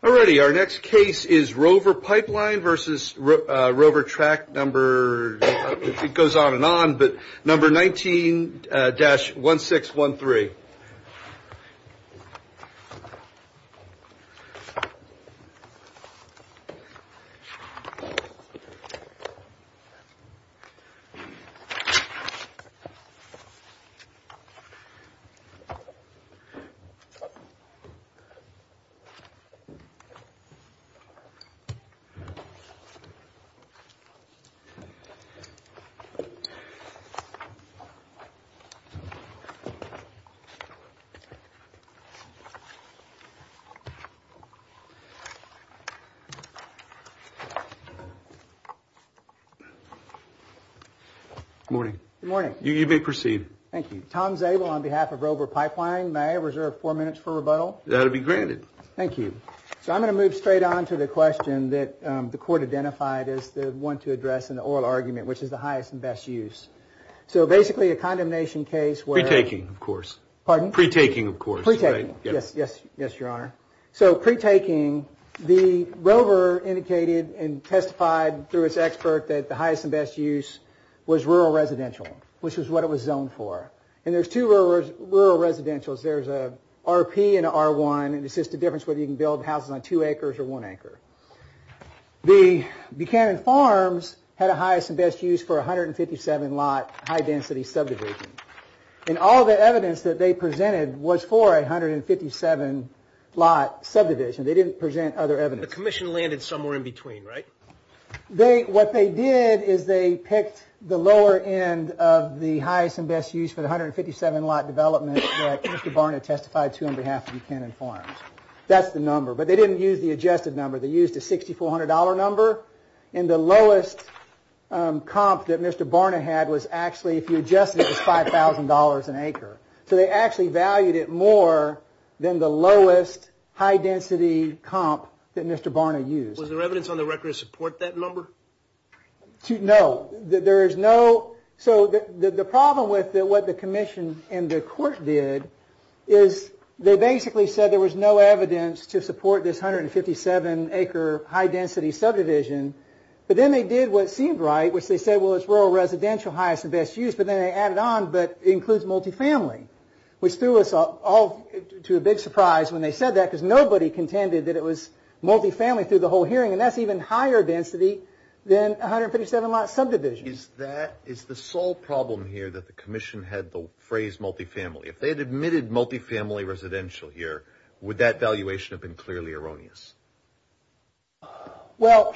All righty, our next case is Rover Pipeline versus Rover Tract number, it goes on and on, but number 19-1613. Good morning. Good morning. You may proceed. Thank you. Tom Zabel on behalf of Rover Pipeline, may I reserve four minutes for rebuttal? That would be granted. Thank you. So I'm going to move straight on to the question that the court identified as the one to address in the oral argument, which is the highest and best use. So basically a condemnation case where... Pre-taking, of course. Pardon? Pre-taking, of course. Pre-taking. Yes, yes, yes, your honor. So pre-taking, the Rover indicated and testified through its expert that the highest and best use was rural residential, which is what it was zoned for. And there's two rural residentials. There's a RP and an R1, and it's just a difference whether you can build houses on two acres or one acre. The Buchanan Farms had a highest and best use for 157 lot high density subdivision. And all the evidence that they presented was for 157 lot subdivision. They didn't present other evidence. The commission landed somewhere in between, right? What they did is they picked the lower end of the highest and best use for the 157 lot development that Mr. Barna testified to on behalf of Buchanan Farms. That's the number. But they didn't use the adjusted number. They used a $6,400 number. And the lowest comp that Mr. Barna had was actually, if you adjusted it, was $5,000 an acre. So they actually valued it more than the lowest high density comp that Mr. Barna used. Was there evidence on the record to support that number? No. So the problem with what the commission and the court did is they basically said there was no evidence to support this 157 acre high density subdivision. But then they did what seemed right, which they said, well, it's rural residential highest and best use. But then they added on, but it includes multifamily, which threw us all to a big surprise when they said that because nobody contended that it was multifamily through the whole hearing. And that's even higher density than 157 lot subdivision. Is the sole problem here that the commission had the phrase multifamily? If they had admitted multifamily residential here, would that valuation have been clearly erroneous? Well,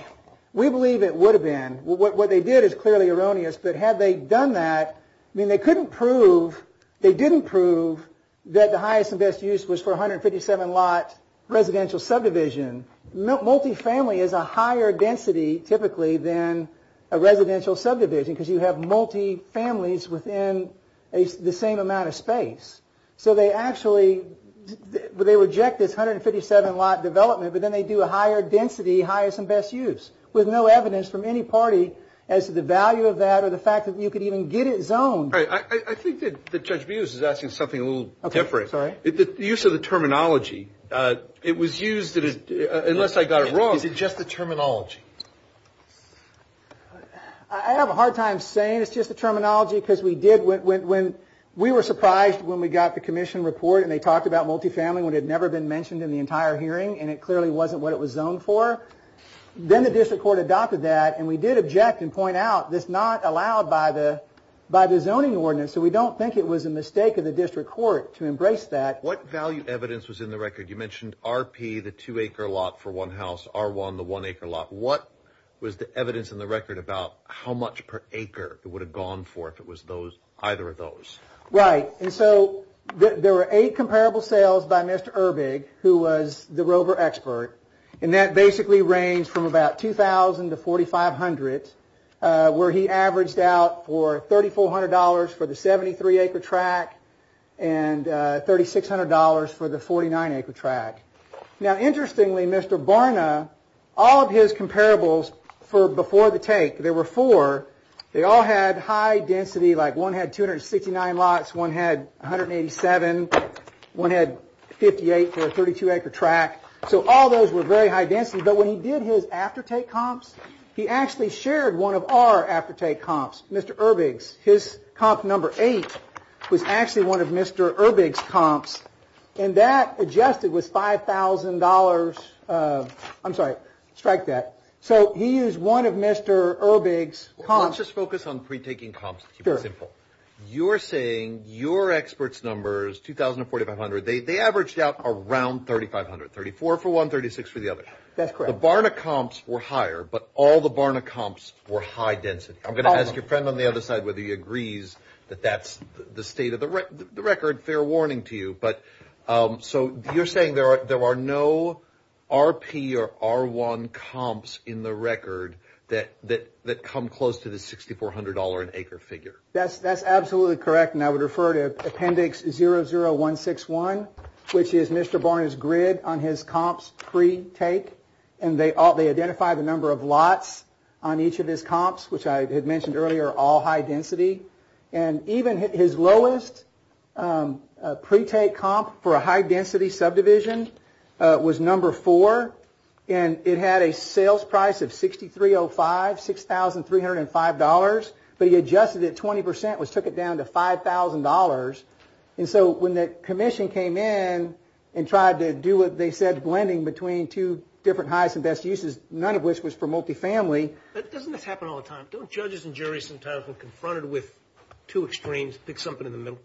we believe it would have been. What they did is clearly erroneous, but had they done that, I mean, they couldn't prove, they didn't prove that the highest and best use was for 157 lot residential subdivision. Multifamily is a higher density typically than a residential subdivision because you have multifamilies within the same amount of space. So they actually, they reject this 157 lot development, but then they do a higher density, highest and best use with no evidence from any party as to the value of that or the fact that you could even get it zoned. I think that Judge Bezos is asking something a little different. Okay, sorry. The use of the terminology, it was used, unless I got it wrong. Is it just the terminology? I have a hard time saying it's just the terminology because we were surprised when we got the commission report and they talked about multifamily when it had never been mentioned in the entire hearing and it clearly wasn't what it was zoned for. Then the district court adopted that and we did object and point out that it's not allowed by the zoning ordinance. So we don't think it was a mistake of the district court to embrace that. What value evidence was in the record? You mentioned RP, the two acre lot for one house, R1, the one acre lot. What was the evidence in the record about how much per acre it would have gone for if it was either of those? Right. There were eight comparable sales by Mr. Erbig who was the rover expert. That basically ranged from about $2,000 to $4,500 where he averaged out for $3,400 for the 73 acre track and $3,600 for the 49 acre track. Interestingly, Mr. Barna, all of his comparables for before the take, there were four. They all had high density, like one had 269 lots, one had 187, one had 58 for a 32 acre track. So all those were very high density. But when he did his after take comps, he actually shared one of our after take comps, Mr. Erbig's. His comp number eight was actually one of Mr. Erbig's comps and that adjusted with $5,000. I'm sorry, strike that. So he used one of Mr. Erbig's comps. Let's just focus on pre-taking comps to keep it simple. You're saying your expert's numbers, 2,000 to 4,500, they averaged out around 3,500, 34 for one, 36 for the other. That's correct. The Barna comps were higher, but all the Barna comps were high density. I'm going to ask your friend on the other side whether he agrees that that's the state of the record. Fair warning to you. So you're saying there are no RP or R1 comps in the record that come close to the $6,400 an acre figure. That's absolutely correct. And I would refer to Appendix 00161, which is Mr. Barna's grid on his comps pre-take. And they identify the number of lots on each of his comps, which I had mentioned earlier, all high density. And even his lowest pre-take comp for a high density subdivision was number four. And it had a sales price of 6,305, $6,305. But he adjusted it 20% and took it down to $5,000. And so when the commission came in and tried to do what they said, blending between two different highs and best uses, none of which was for multifamily. But doesn't this happen all the time? Don't judges and juries sometimes get confronted with two extremes, pick something in the middle?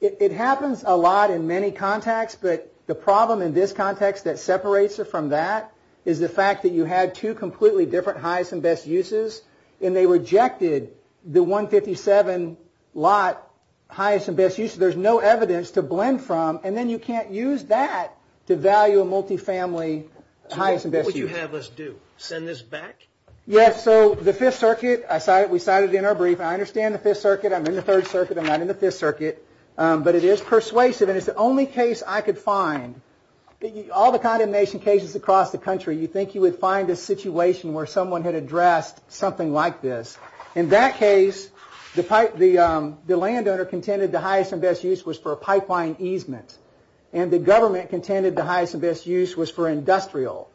It happens a lot in many contexts, but the problem in this context that separates it from that is the fact that you had two completely different highs and best uses. And they rejected the 157 lot highest and best use. There's no evidence to blend from. And then you can't use that to value a multifamily highest and best use. So what do you have us do? Send this back? Yes, so the Fifth Circuit, we cited it in our brief. I understand the Fifth Circuit. I'm in the Third Circuit. I'm not in the Fifth Circuit. But it is persuasive. And it's the only case I could find. All the condemnation cases across the country, you think you would find a situation where someone had addressed something like this. In that case, the landowner contended the highest and best use was for a pipeline easement. And the government contended the highest and best use was for industrial.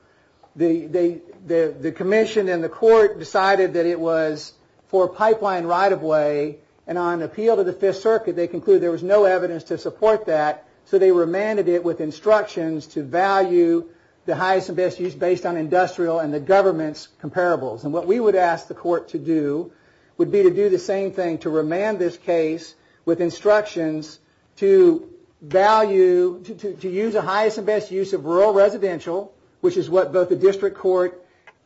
The commission and the court decided that it was for a pipeline right-of-way. And on appeal to the Fifth Circuit, they concluded there was no evidence to support that. So they remanded it with instructions to value the highest and best use based on industrial and the government's comparables. And what we would ask the court to do would be to do the same thing, to remand this case with instructions to use the highest and best use of rural residential, which is what both the district court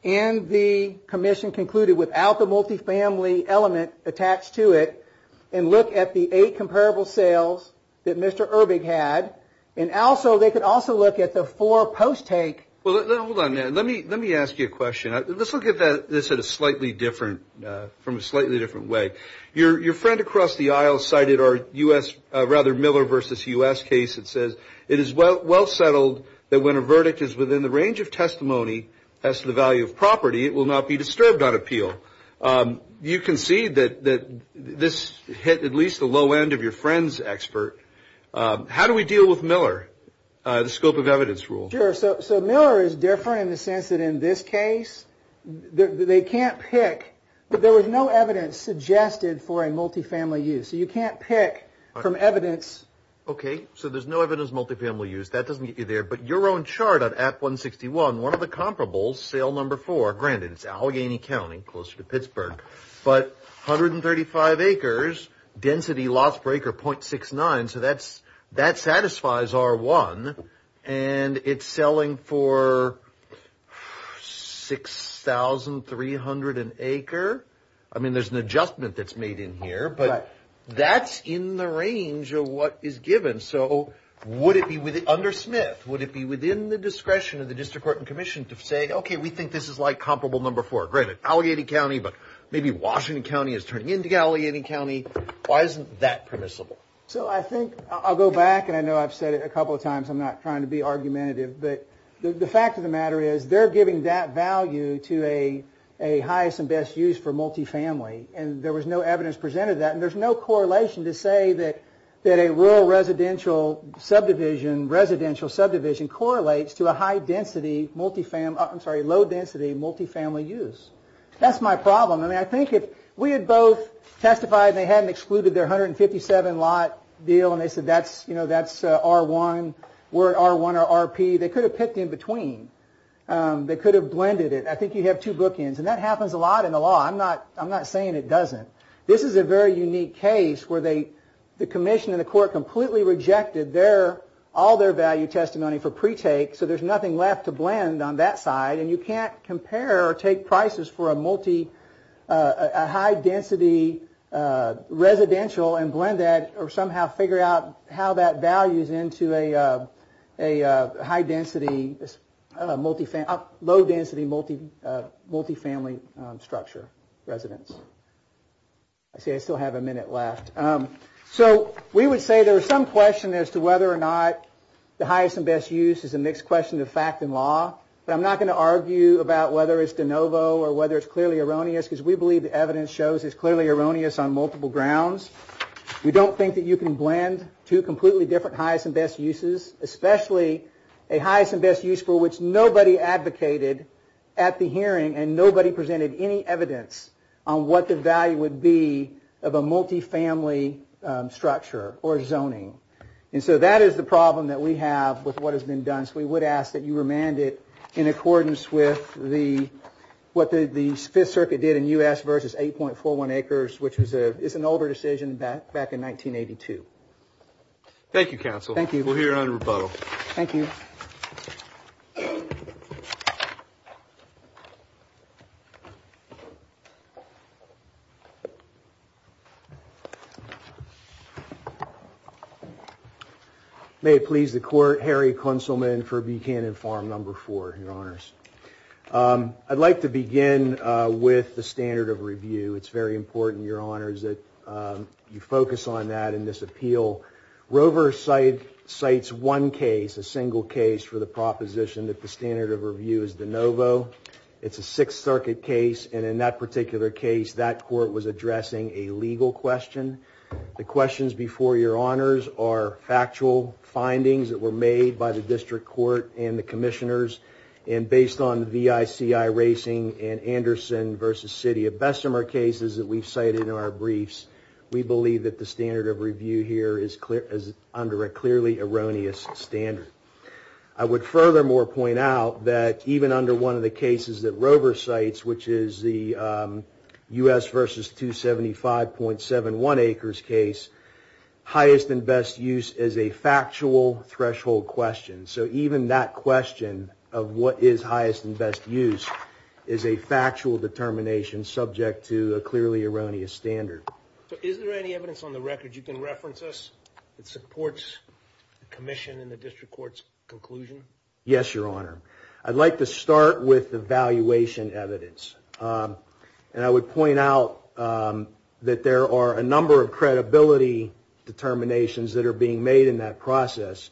and the commission concluded without the multifamily element attached to it, and look at the eight comparable sales that Mr. Erbig had. And also, they could also look at the four post-take. Hold on. Let me ask you a question. Let's look at this in a slightly different way. Your friend across the aisle cited our Miller v. U.S. case that says, it is well settled that when a verdict is within the range of testimony as to the value of property, it will not be disturbed on appeal. You concede that this hit at least the low end of your friend's expert. How do we deal with Miller, the scope of evidence rule? Sure. So Miller is different in the sense that in this case, they can't pick, but there was no evidence suggested for a multifamily use. So you can't pick from evidence. Okay. So there's no evidence multifamily use. That doesn't get you there. But your own chart at 161, one of the comparables, sale number four, granted, it's Allegheny County, closer to Pittsburgh, but 135 acres, density loss per acre, 0.69. So that satisfies R1, and it's selling for 6,300 an acre. I mean, there's an adjustment that's made in here. But that's in the range of what is given. So would it be under Smith, would it be within the discretion of the district court and commission to say, okay, we think this is like comparable number four, granted, Allegheny County, but maybe Washington County is turning into the Allegheny County. Why isn't that permissible? So I think I'll go back, and I know I've said it a couple of times. I'm not trying to be argumentative. But the fact of the matter is they're giving that value to a highest and best use for multifamily, and there was no evidence presented that. And there's no correlation to say that a rural residential subdivision correlates to a low-density multifamily use. That's my problem. I mean, I think if we had both testified and they hadn't excluded their 157-lot deal and they said that's R1, we're at R1 or RP, they could have picked in between. They could have blended it. I think you have two bookends. And that happens a lot in the law. I'm not saying it doesn't. This is a very unique case where the commission and the court completely rejected all their value testimony for pre-take, so there's nothing left to blend on that side. And you can't compare or take prices for a high-density residential and blend that or somehow figure out how that values into a low-density multifamily structure residence. I see I still have a minute left. So we would say there's some question as to whether or not the highest and best use is a mixed question of fact and law. But I'm not going to argue about whether it's de novo or whether it's clearly erroneous because we believe the evidence shows it's clearly erroneous on multiple grounds. We don't think that you can blend two completely different highest and best uses, especially a highest and best use for which nobody advocated at the hearing and nobody presented any evidence on what the value would be of a multifamily structure or zoning. And so that is the problem that we have with what has been done. So we would ask that you remand it in accordance with what the Fifth Circuit did in U.S. versus 8.41 acres, which is an older decision back in 1982. Thank you, counsel. Thank you. We'll hear in rebuttal. Thank you. May it please the Court. Harry Kunselman for Buchanan Farm No. 4, Your Honors. I'd like to begin with the standard of review. It's very important, Your Honors, that you focus on that in this appeal. Rover cites one case, a single case, for the proposition that the standard of review is de novo. It's a Sixth Circuit case, and in that particular case, that court was addressing a legal question. The questions before Your Honors are factual findings that were made by the District Court and the commissioners, and based on the VICI Racing and Anderson versus City of Bessemer cases that we've cited in our briefs, we believe that the standard of review here is under a clearly erroneous standard. I would furthermore point out that even under one of the cases that Rover cites, which is the U.S. versus 275.71 acres case, highest and best use is a factual threshold question. So even that question of what is highest and best use is a factual determination subject to a clearly erroneous standard. So is there any evidence on the record you can reference us that supports the commission and the District Court's conclusion? Yes, Your Honor. I'd like to start with the valuation evidence. And I would point out that there are a number of credibility determinations that are being made in that process.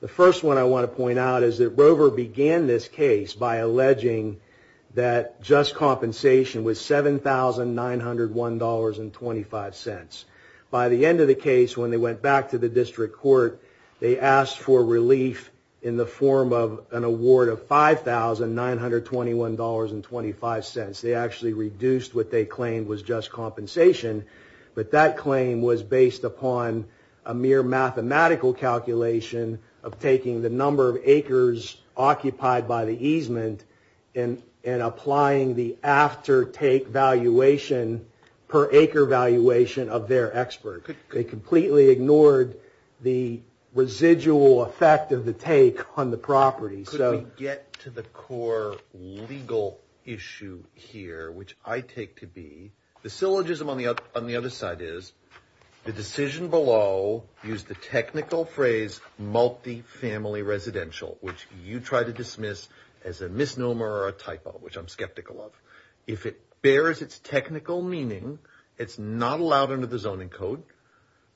The first one I want to point out is that Rover began this case by alleging that just compensation was $7,901.25. By the end of the case, when they went back to the District Court, they asked for relief in the form of an award of $5,921.25. They actually reduced what they claimed was just compensation, but that claim was based upon a mere mathematical calculation of taking the number of acres occupied by the easement and applying the after take valuation per acre valuation of their expert. They completely ignored the residual effect of the take on the property. Could we get to the core legal issue here, which I take to be The syllogism on the other side is the decision below used the technical phrase multifamily residential, which you try to dismiss as a misnomer or a typo, which I'm skeptical of. If it bears its technical meaning, it's not allowed under the zoning code.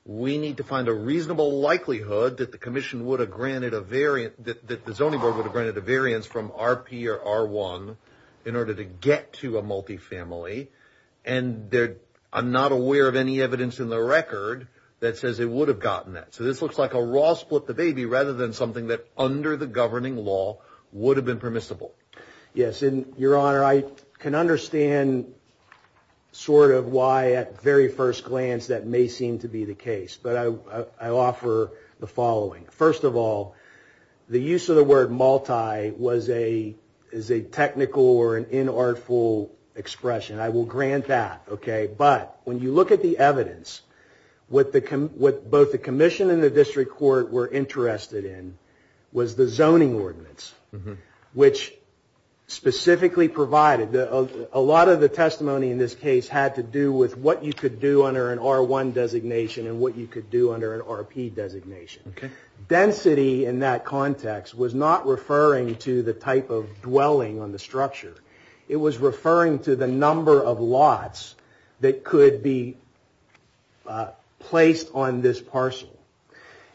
We need to find a reasonable likelihood that the commission would have granted a variant, that the zoning board would have granted a variance from RP or R1 in order to get to a multifamily. And I'm not aware of any evidence in the record that says it would have gotten that. So this looks like a raw split the baby rather than something that under the governing law would have been permissible. Yes. And Your Honor, I can understand sort of why at very first glance that may seem to be the case. But I offer the following. First of all, the use of the word multi was a is a technical or an inartful expression. I will grant that. OK, but when you look at the evidence with the with both the commission and the district court, we're interested in was the zoning ordinance, which specifically provided a lot of the testimony in this case had to do with what you could do under an R1 designation and what you could do under an RP designation. Density in that context was not referring to the type of dwelling on the structure. It was referring to the number of lots that could be placed on this parcel.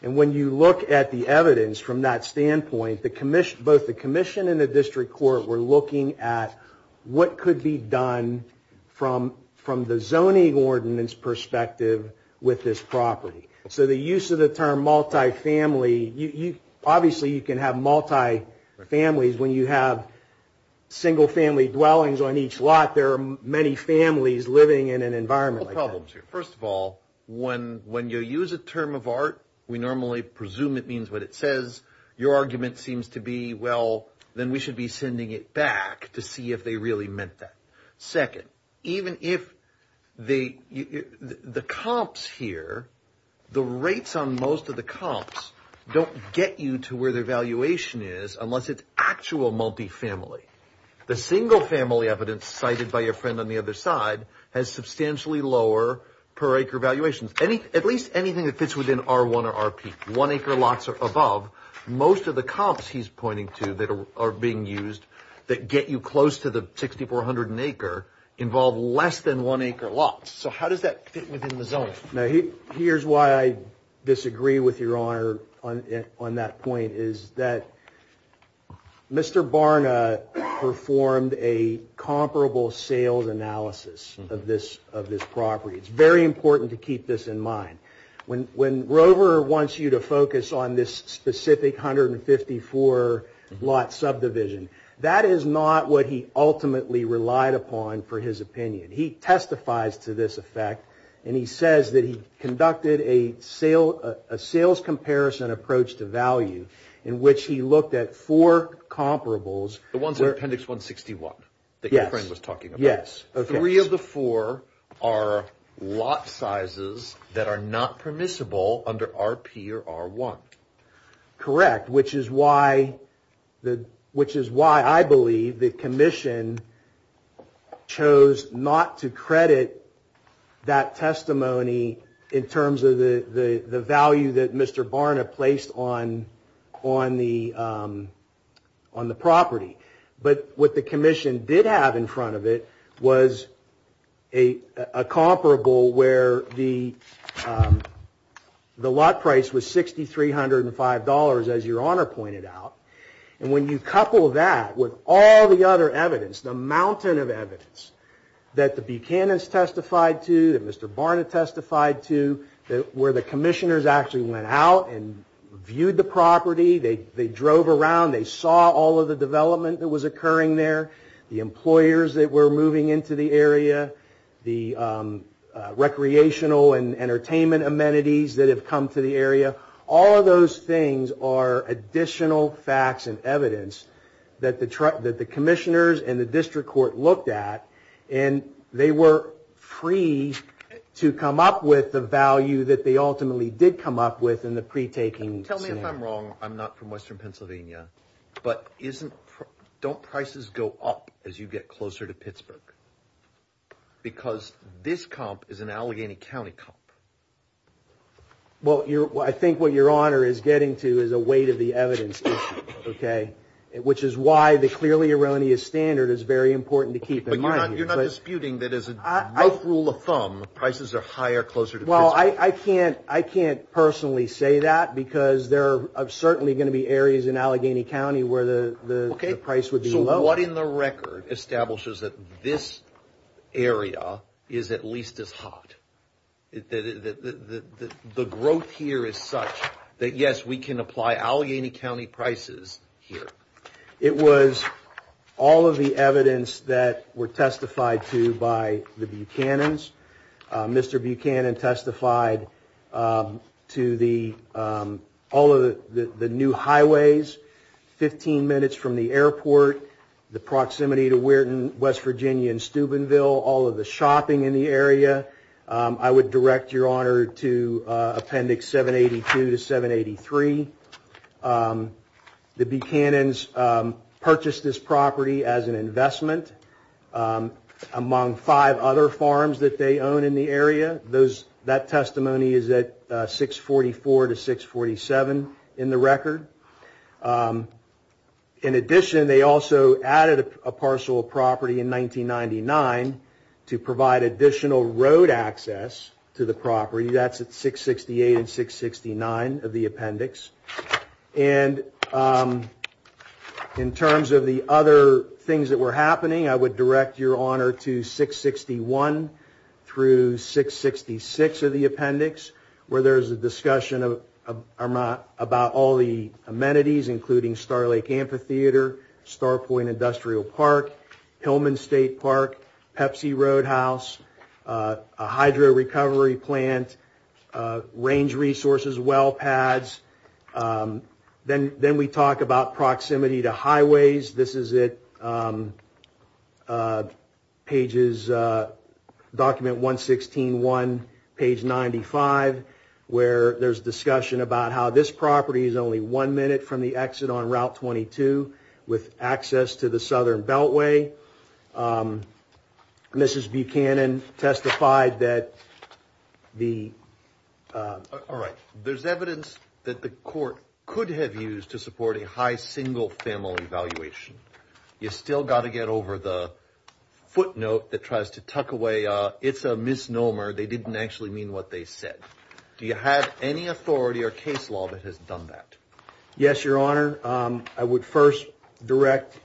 And when you look at the evidence from that standpoint, the commission, both the commission and the district court, we're looking at what could be done from from the zoning ordinance perspective with this property. So the use of the term multifamily, you obviously you can have multifamilies when you have single family dwellings on each lot. There are many families living in an environment like problems here. First of all, when when you use a term of art, we normally presume it means what it says. Your argument seems to be, well, then we should be sending it back to see if they really meant that. Second, even if the the comps here, the rates on most of the comps don't get you to where the valuation is unless it's actual multifamily. The single family evidence cited by your friend on the other side has substantially lower per acre valuations. Any at least anything that fits within our one or RP one acre lots above most of the comps he's pointing to that are being used. That get you close to the sixty four hundred acre involve less than one acre lot. So how does that fit within the zone? Now, here's why I disagree with your honor on that point, is that Mr. Barna performed a comparable sales analysis of this of this property. It's very important to keep this in mind when when Rover wants you to focus on this specific hundred and fifty four lot subdivision. That is not what he ultimately relied upon for his opinion. He testifies to this effect. And he says that he conducted a sale, a sales comparison approach to value in which he looked at four comparables. The ones that are appendix one sixty one. Yes. I was talking. Yes. Three of the four are lot sizes that are not permissible under RP or R1. Correct. Which is why the which is why I believe the commission chose not to credit that testimony in terms of the value that Mr. Barna placed on on the on the property. But what the commission did have in front of it was a comparable where the the lot price was sixty three hundred and five dollars, as your honor pointed out. And when you couple that with all the other evidence, the mountain of evidence that the Buchanan's testified to that Mr. Barna testified to where the commissioners actually went out and viewed the property. They drove around. They saw all of the development that was occurring there. The employers that were moving into the area, the recreational and entertainment amenities that have come to the area. All of those things are additional facts and evidence that the truck that the commissioners and the district court looked at. And they were free to come up with the value that they ultimately did come up with in the pre taking. Tell me if I'm wrong. I'm not from western Pennsylvania, but isn't don't prices go up as you get closer to Pittsburgh? Because this comp is an Allegheny County cop. Well, I think what your honor is getting to is a weight of the evidence. OK. Which is why the clearly erroneous standard is very important to keep in mind. You're not disputing that as a rule of thumb, prices are higher, closer to. Well, I can't I can't personally say that because there are certainly going to be areas in Allegheny County where the price would be low. What in the record establishes that this area is at least as hot? The growth here is such that, yes, we can apply Allegheny County prices here. It was all of the evidence that were testified to by the Buchanan's. Mr. Buchanan testified to the all of the new highways, 15 minutes from the airport. The proximity to Weirton, West Virginia and Steubenville, all of the shopping in the area. I would direct your honor to Appendix 782 to 783. The Buchanan's purchased this property as an investment among five other farms that they own in the area. Those that testimony is that 644 to 647 in the record. In addition, they also added a parcel of property in 1999 to provide additional road access to the property. That's at 668 and 669 of the appendix. And in terms of the other things that were happening, I would direct your honor to 661 through 666 of the appendix, where there is a discussion about all the amenities, including Star Lake Amphitheater, Star Point Industrial Park, Hillman State Park, Pepsi Roadhouse, a hydro recovery plant, range resources, well pads. Then we talk about proximity to highways. This is it. Pages document 116 one page 95, where there's discussion about how this property is only one minute from the exit on Route 22 with access to the southern beltway. Mrs. Buchanan testified that the. All right. There's evidence that the court could have used to support a high single family valuation. You still got to get over the footnote that tries to tuck away. It's a misnomer. They didn't actually mean what they said. Do you have any authority or case law that has done that? Yes, your honor. I would first direct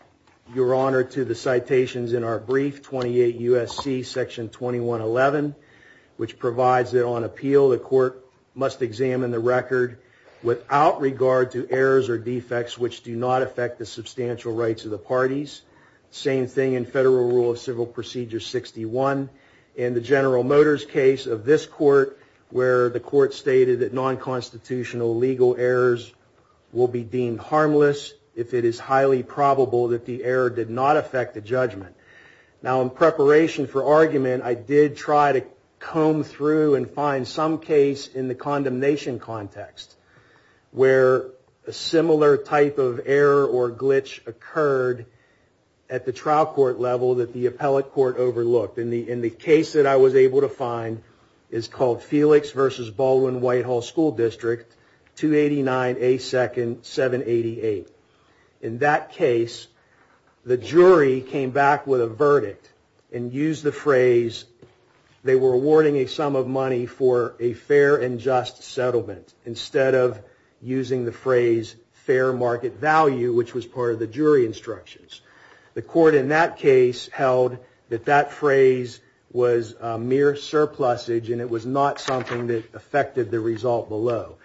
your honor to the citations in our brief. Twenty eight U.S.C. Section 2111, which provides it on appeal. The court must examine the record without regard to errors or defects which do not affect the substantial rights of the parties. Same thing in federal rule of civil procedure. In the General Motors case of this court, where the court stated that non-constitutional legal errors will be deemed harmless if it is highly probable that the error did not affect the judgment. Now, in preparation for argument, I did try to comb through and find some case in the condemnation context where a similar type of error or glitch occurred. At the trial court level that the appellate court overlooked in the in the case that I was able to find is called Felix versus Baldwin Whitehall School District 289 A. Second 788. In that case, the jury came back with a verdict and used the phrase they were awarding a sum of money for a fair and just settlement instead of using the phrase fair market value, which was part of the jury instructions. The court in that case held that that phrase was mere surplusage and it was not something that affected the result below.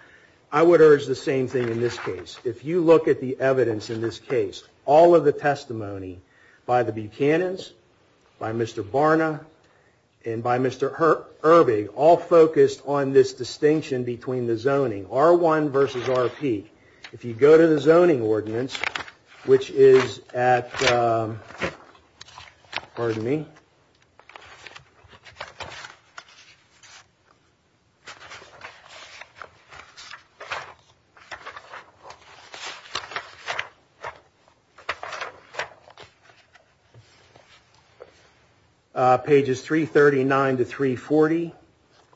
I would urge the same thing in this case. If you look at the evidence in this case, all of the testimony by the Buchanan's, by Mr. Barna, and by Mr. Irving all focused on this distinction between the zoning, R1 versus RP. If you go to the zoning ordinance, which is at. Pardon me. Pages three thirty nine to three forty.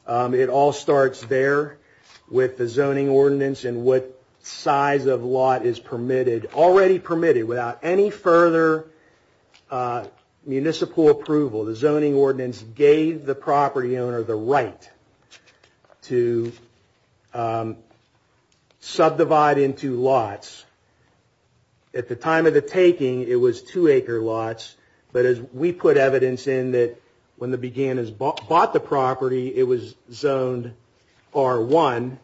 It all starts there with the zoning ordinance and what size of lot is permitted already permitted without any further municipal approval. The zoning ordinance gave the property owner the right to subdivide into lots. At the time of the taking, it was two acre lots. But as we put evidence in that when the Buchanan's bought the property, it was zoned R1.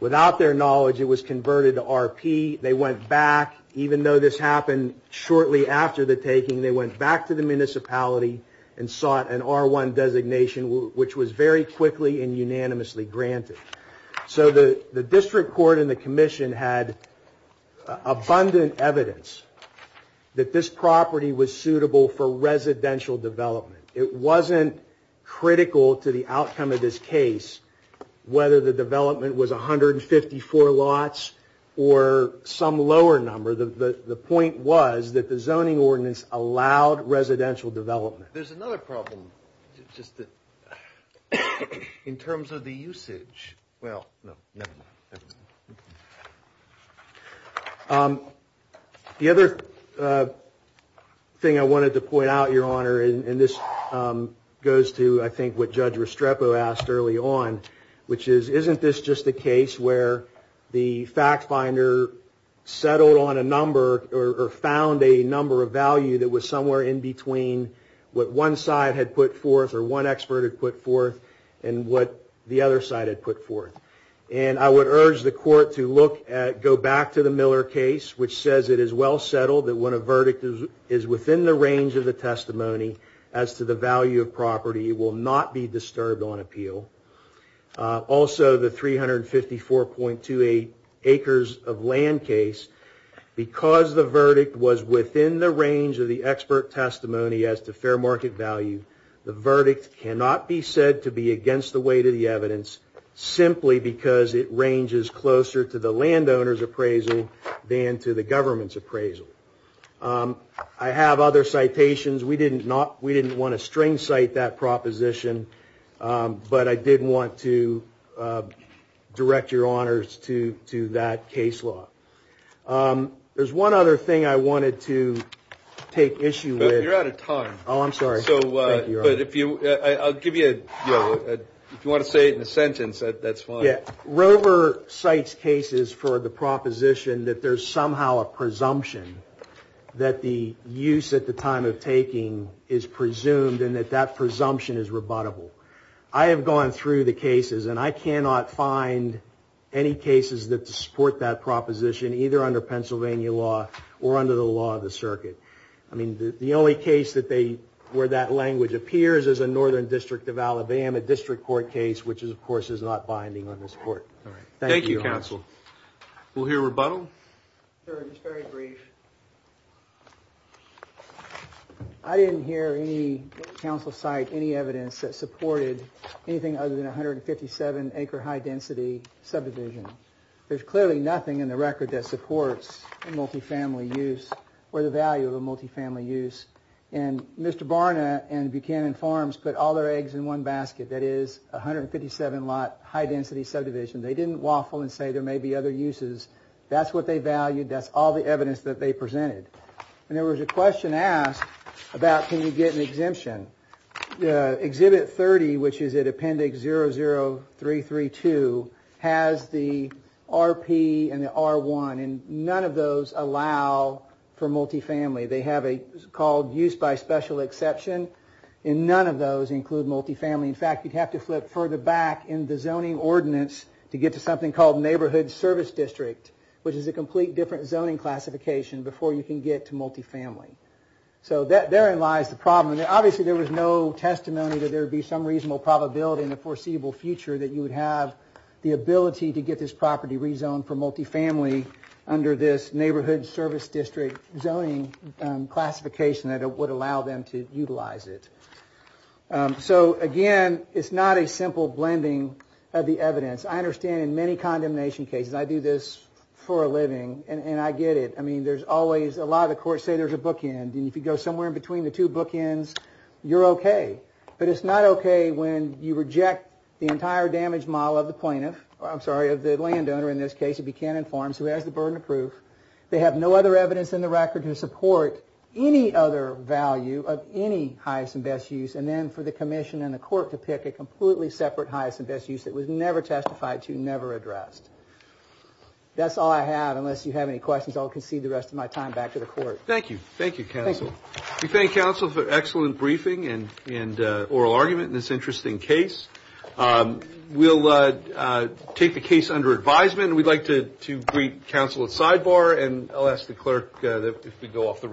Without their knowledge, it was converted to RP. They went back, even though this happened shortly after the taking, they went back to the municipality and sought an R1 designation, which was very quickly and unanimously granted. So the district court and the commission had abundant evidence that this property was suitable for residential development. It wasn't critical to the outcome of this case, whether the development was one hundred and fifty four lots or some lower number. The point was that the zoning ordinance allowed residential development. There's another problem just in terms of the usage. Well, no, no. The other thing I wanted to point out, Your Honor, and this goes to, I think, what Judge Restrepo asked early on, which is, isn't this just a case where the fact finder settled on a number or found a number of value that was somewhere in between? What one side had put forth or one expert had put forth and what the other side had put forth. And I would urge the court to look at, go back to the Miller case, which says it is well settled that when a verdict is within the range of the testimony as to the value of property, it will not be disturbed on appeal. Also, the three hundred fifty four point two eight acres of land case, because the verdict was within the range of the expert testimony as to fair market value, the verdict cannot be said to be against the weight of the evidence simply because it ranges closer to the landowner's appraisal than to the government's appraisal. I have other citations. We didn't want to string cite that proposition, but I did want to direct your honors to that case law. There's one other thing I wanted to take issue with. You're out of time. Oh, I'm sorry. But I'll give you, if you want to say it in a sentence, that's fine. Rover cites cases for the proposition that there's somehow a presumption that the use at the time of taking is presumed and that that presumption is rebuttable. I have gone through the cases and I cannot find any cases that support that proposition, either under Pennsylvania law or under the law of the circuit. I mean, the only case that they where that language appears is a northern district of Alabama district court case, which is, of course, is not binding on this court. All right. Thank you, counsel. We'll hear rebuttal. I didn't hear any counsel cite any evidence that supported anything other than one hundred fifty seven acre high density subdivision. There's clearly nothing in the record that supports multifamily use or the value of a multifamily use. And Mr. Barnett and Buchanan Farms put all their eggs in one basket. That is one hundred fifty seven lot high density subdivision. They didn't waffle and say there may be other uses. That's what they valued. That's all the evidence that they presented. And there was a question asked about can you get an exemption? Exhibit 30, which is at Appendix 00332, has the RP and the R1 and none of those allow for multifamily. They have a called use by special exception and none of those include multifamily. In fact, you'd have to flip further back in the zoning ordinance to get to something called Neighborhood Service District, which is a complete different zoning classification before you can get to multifamily. So therein lies the problem. Obviously, there was no testimony that there would be some reasonable probability in the foreseeable future that you would have the ability to get this property rezoned for multifamily under this neighborhood service district zoning classification that would allow them to utilize it. So, again, it's not a simple blending of the evidence. I understand in many condemnation cases, I do this for a living and I get it. I mean, there's always a lot of courts say there's a bookend. And if you go somewhere in between the two bookends, you're okay. But it's not okay when you reject the entire damage model of the plaintiff. I'm sorry, of the landowner in this case, it would be Cannon Farms, who has the burden of proof. They have no other evidence in the record to support any other value of any highest and best use. And then for the commission and the court to pick a completely separate highest and best use that was never testified to, never addressed. That's all I have. Unless you have any questions, I'll concede the rest of my time back to the court. Thank you. Thank you, counsel. Thank you. We thank counsel for excellent briefing and oral argument in this interesting case. We'll take the case under advisement. We'd like to greet counsel at sidebar and I'll ask the clerk if we go off the record.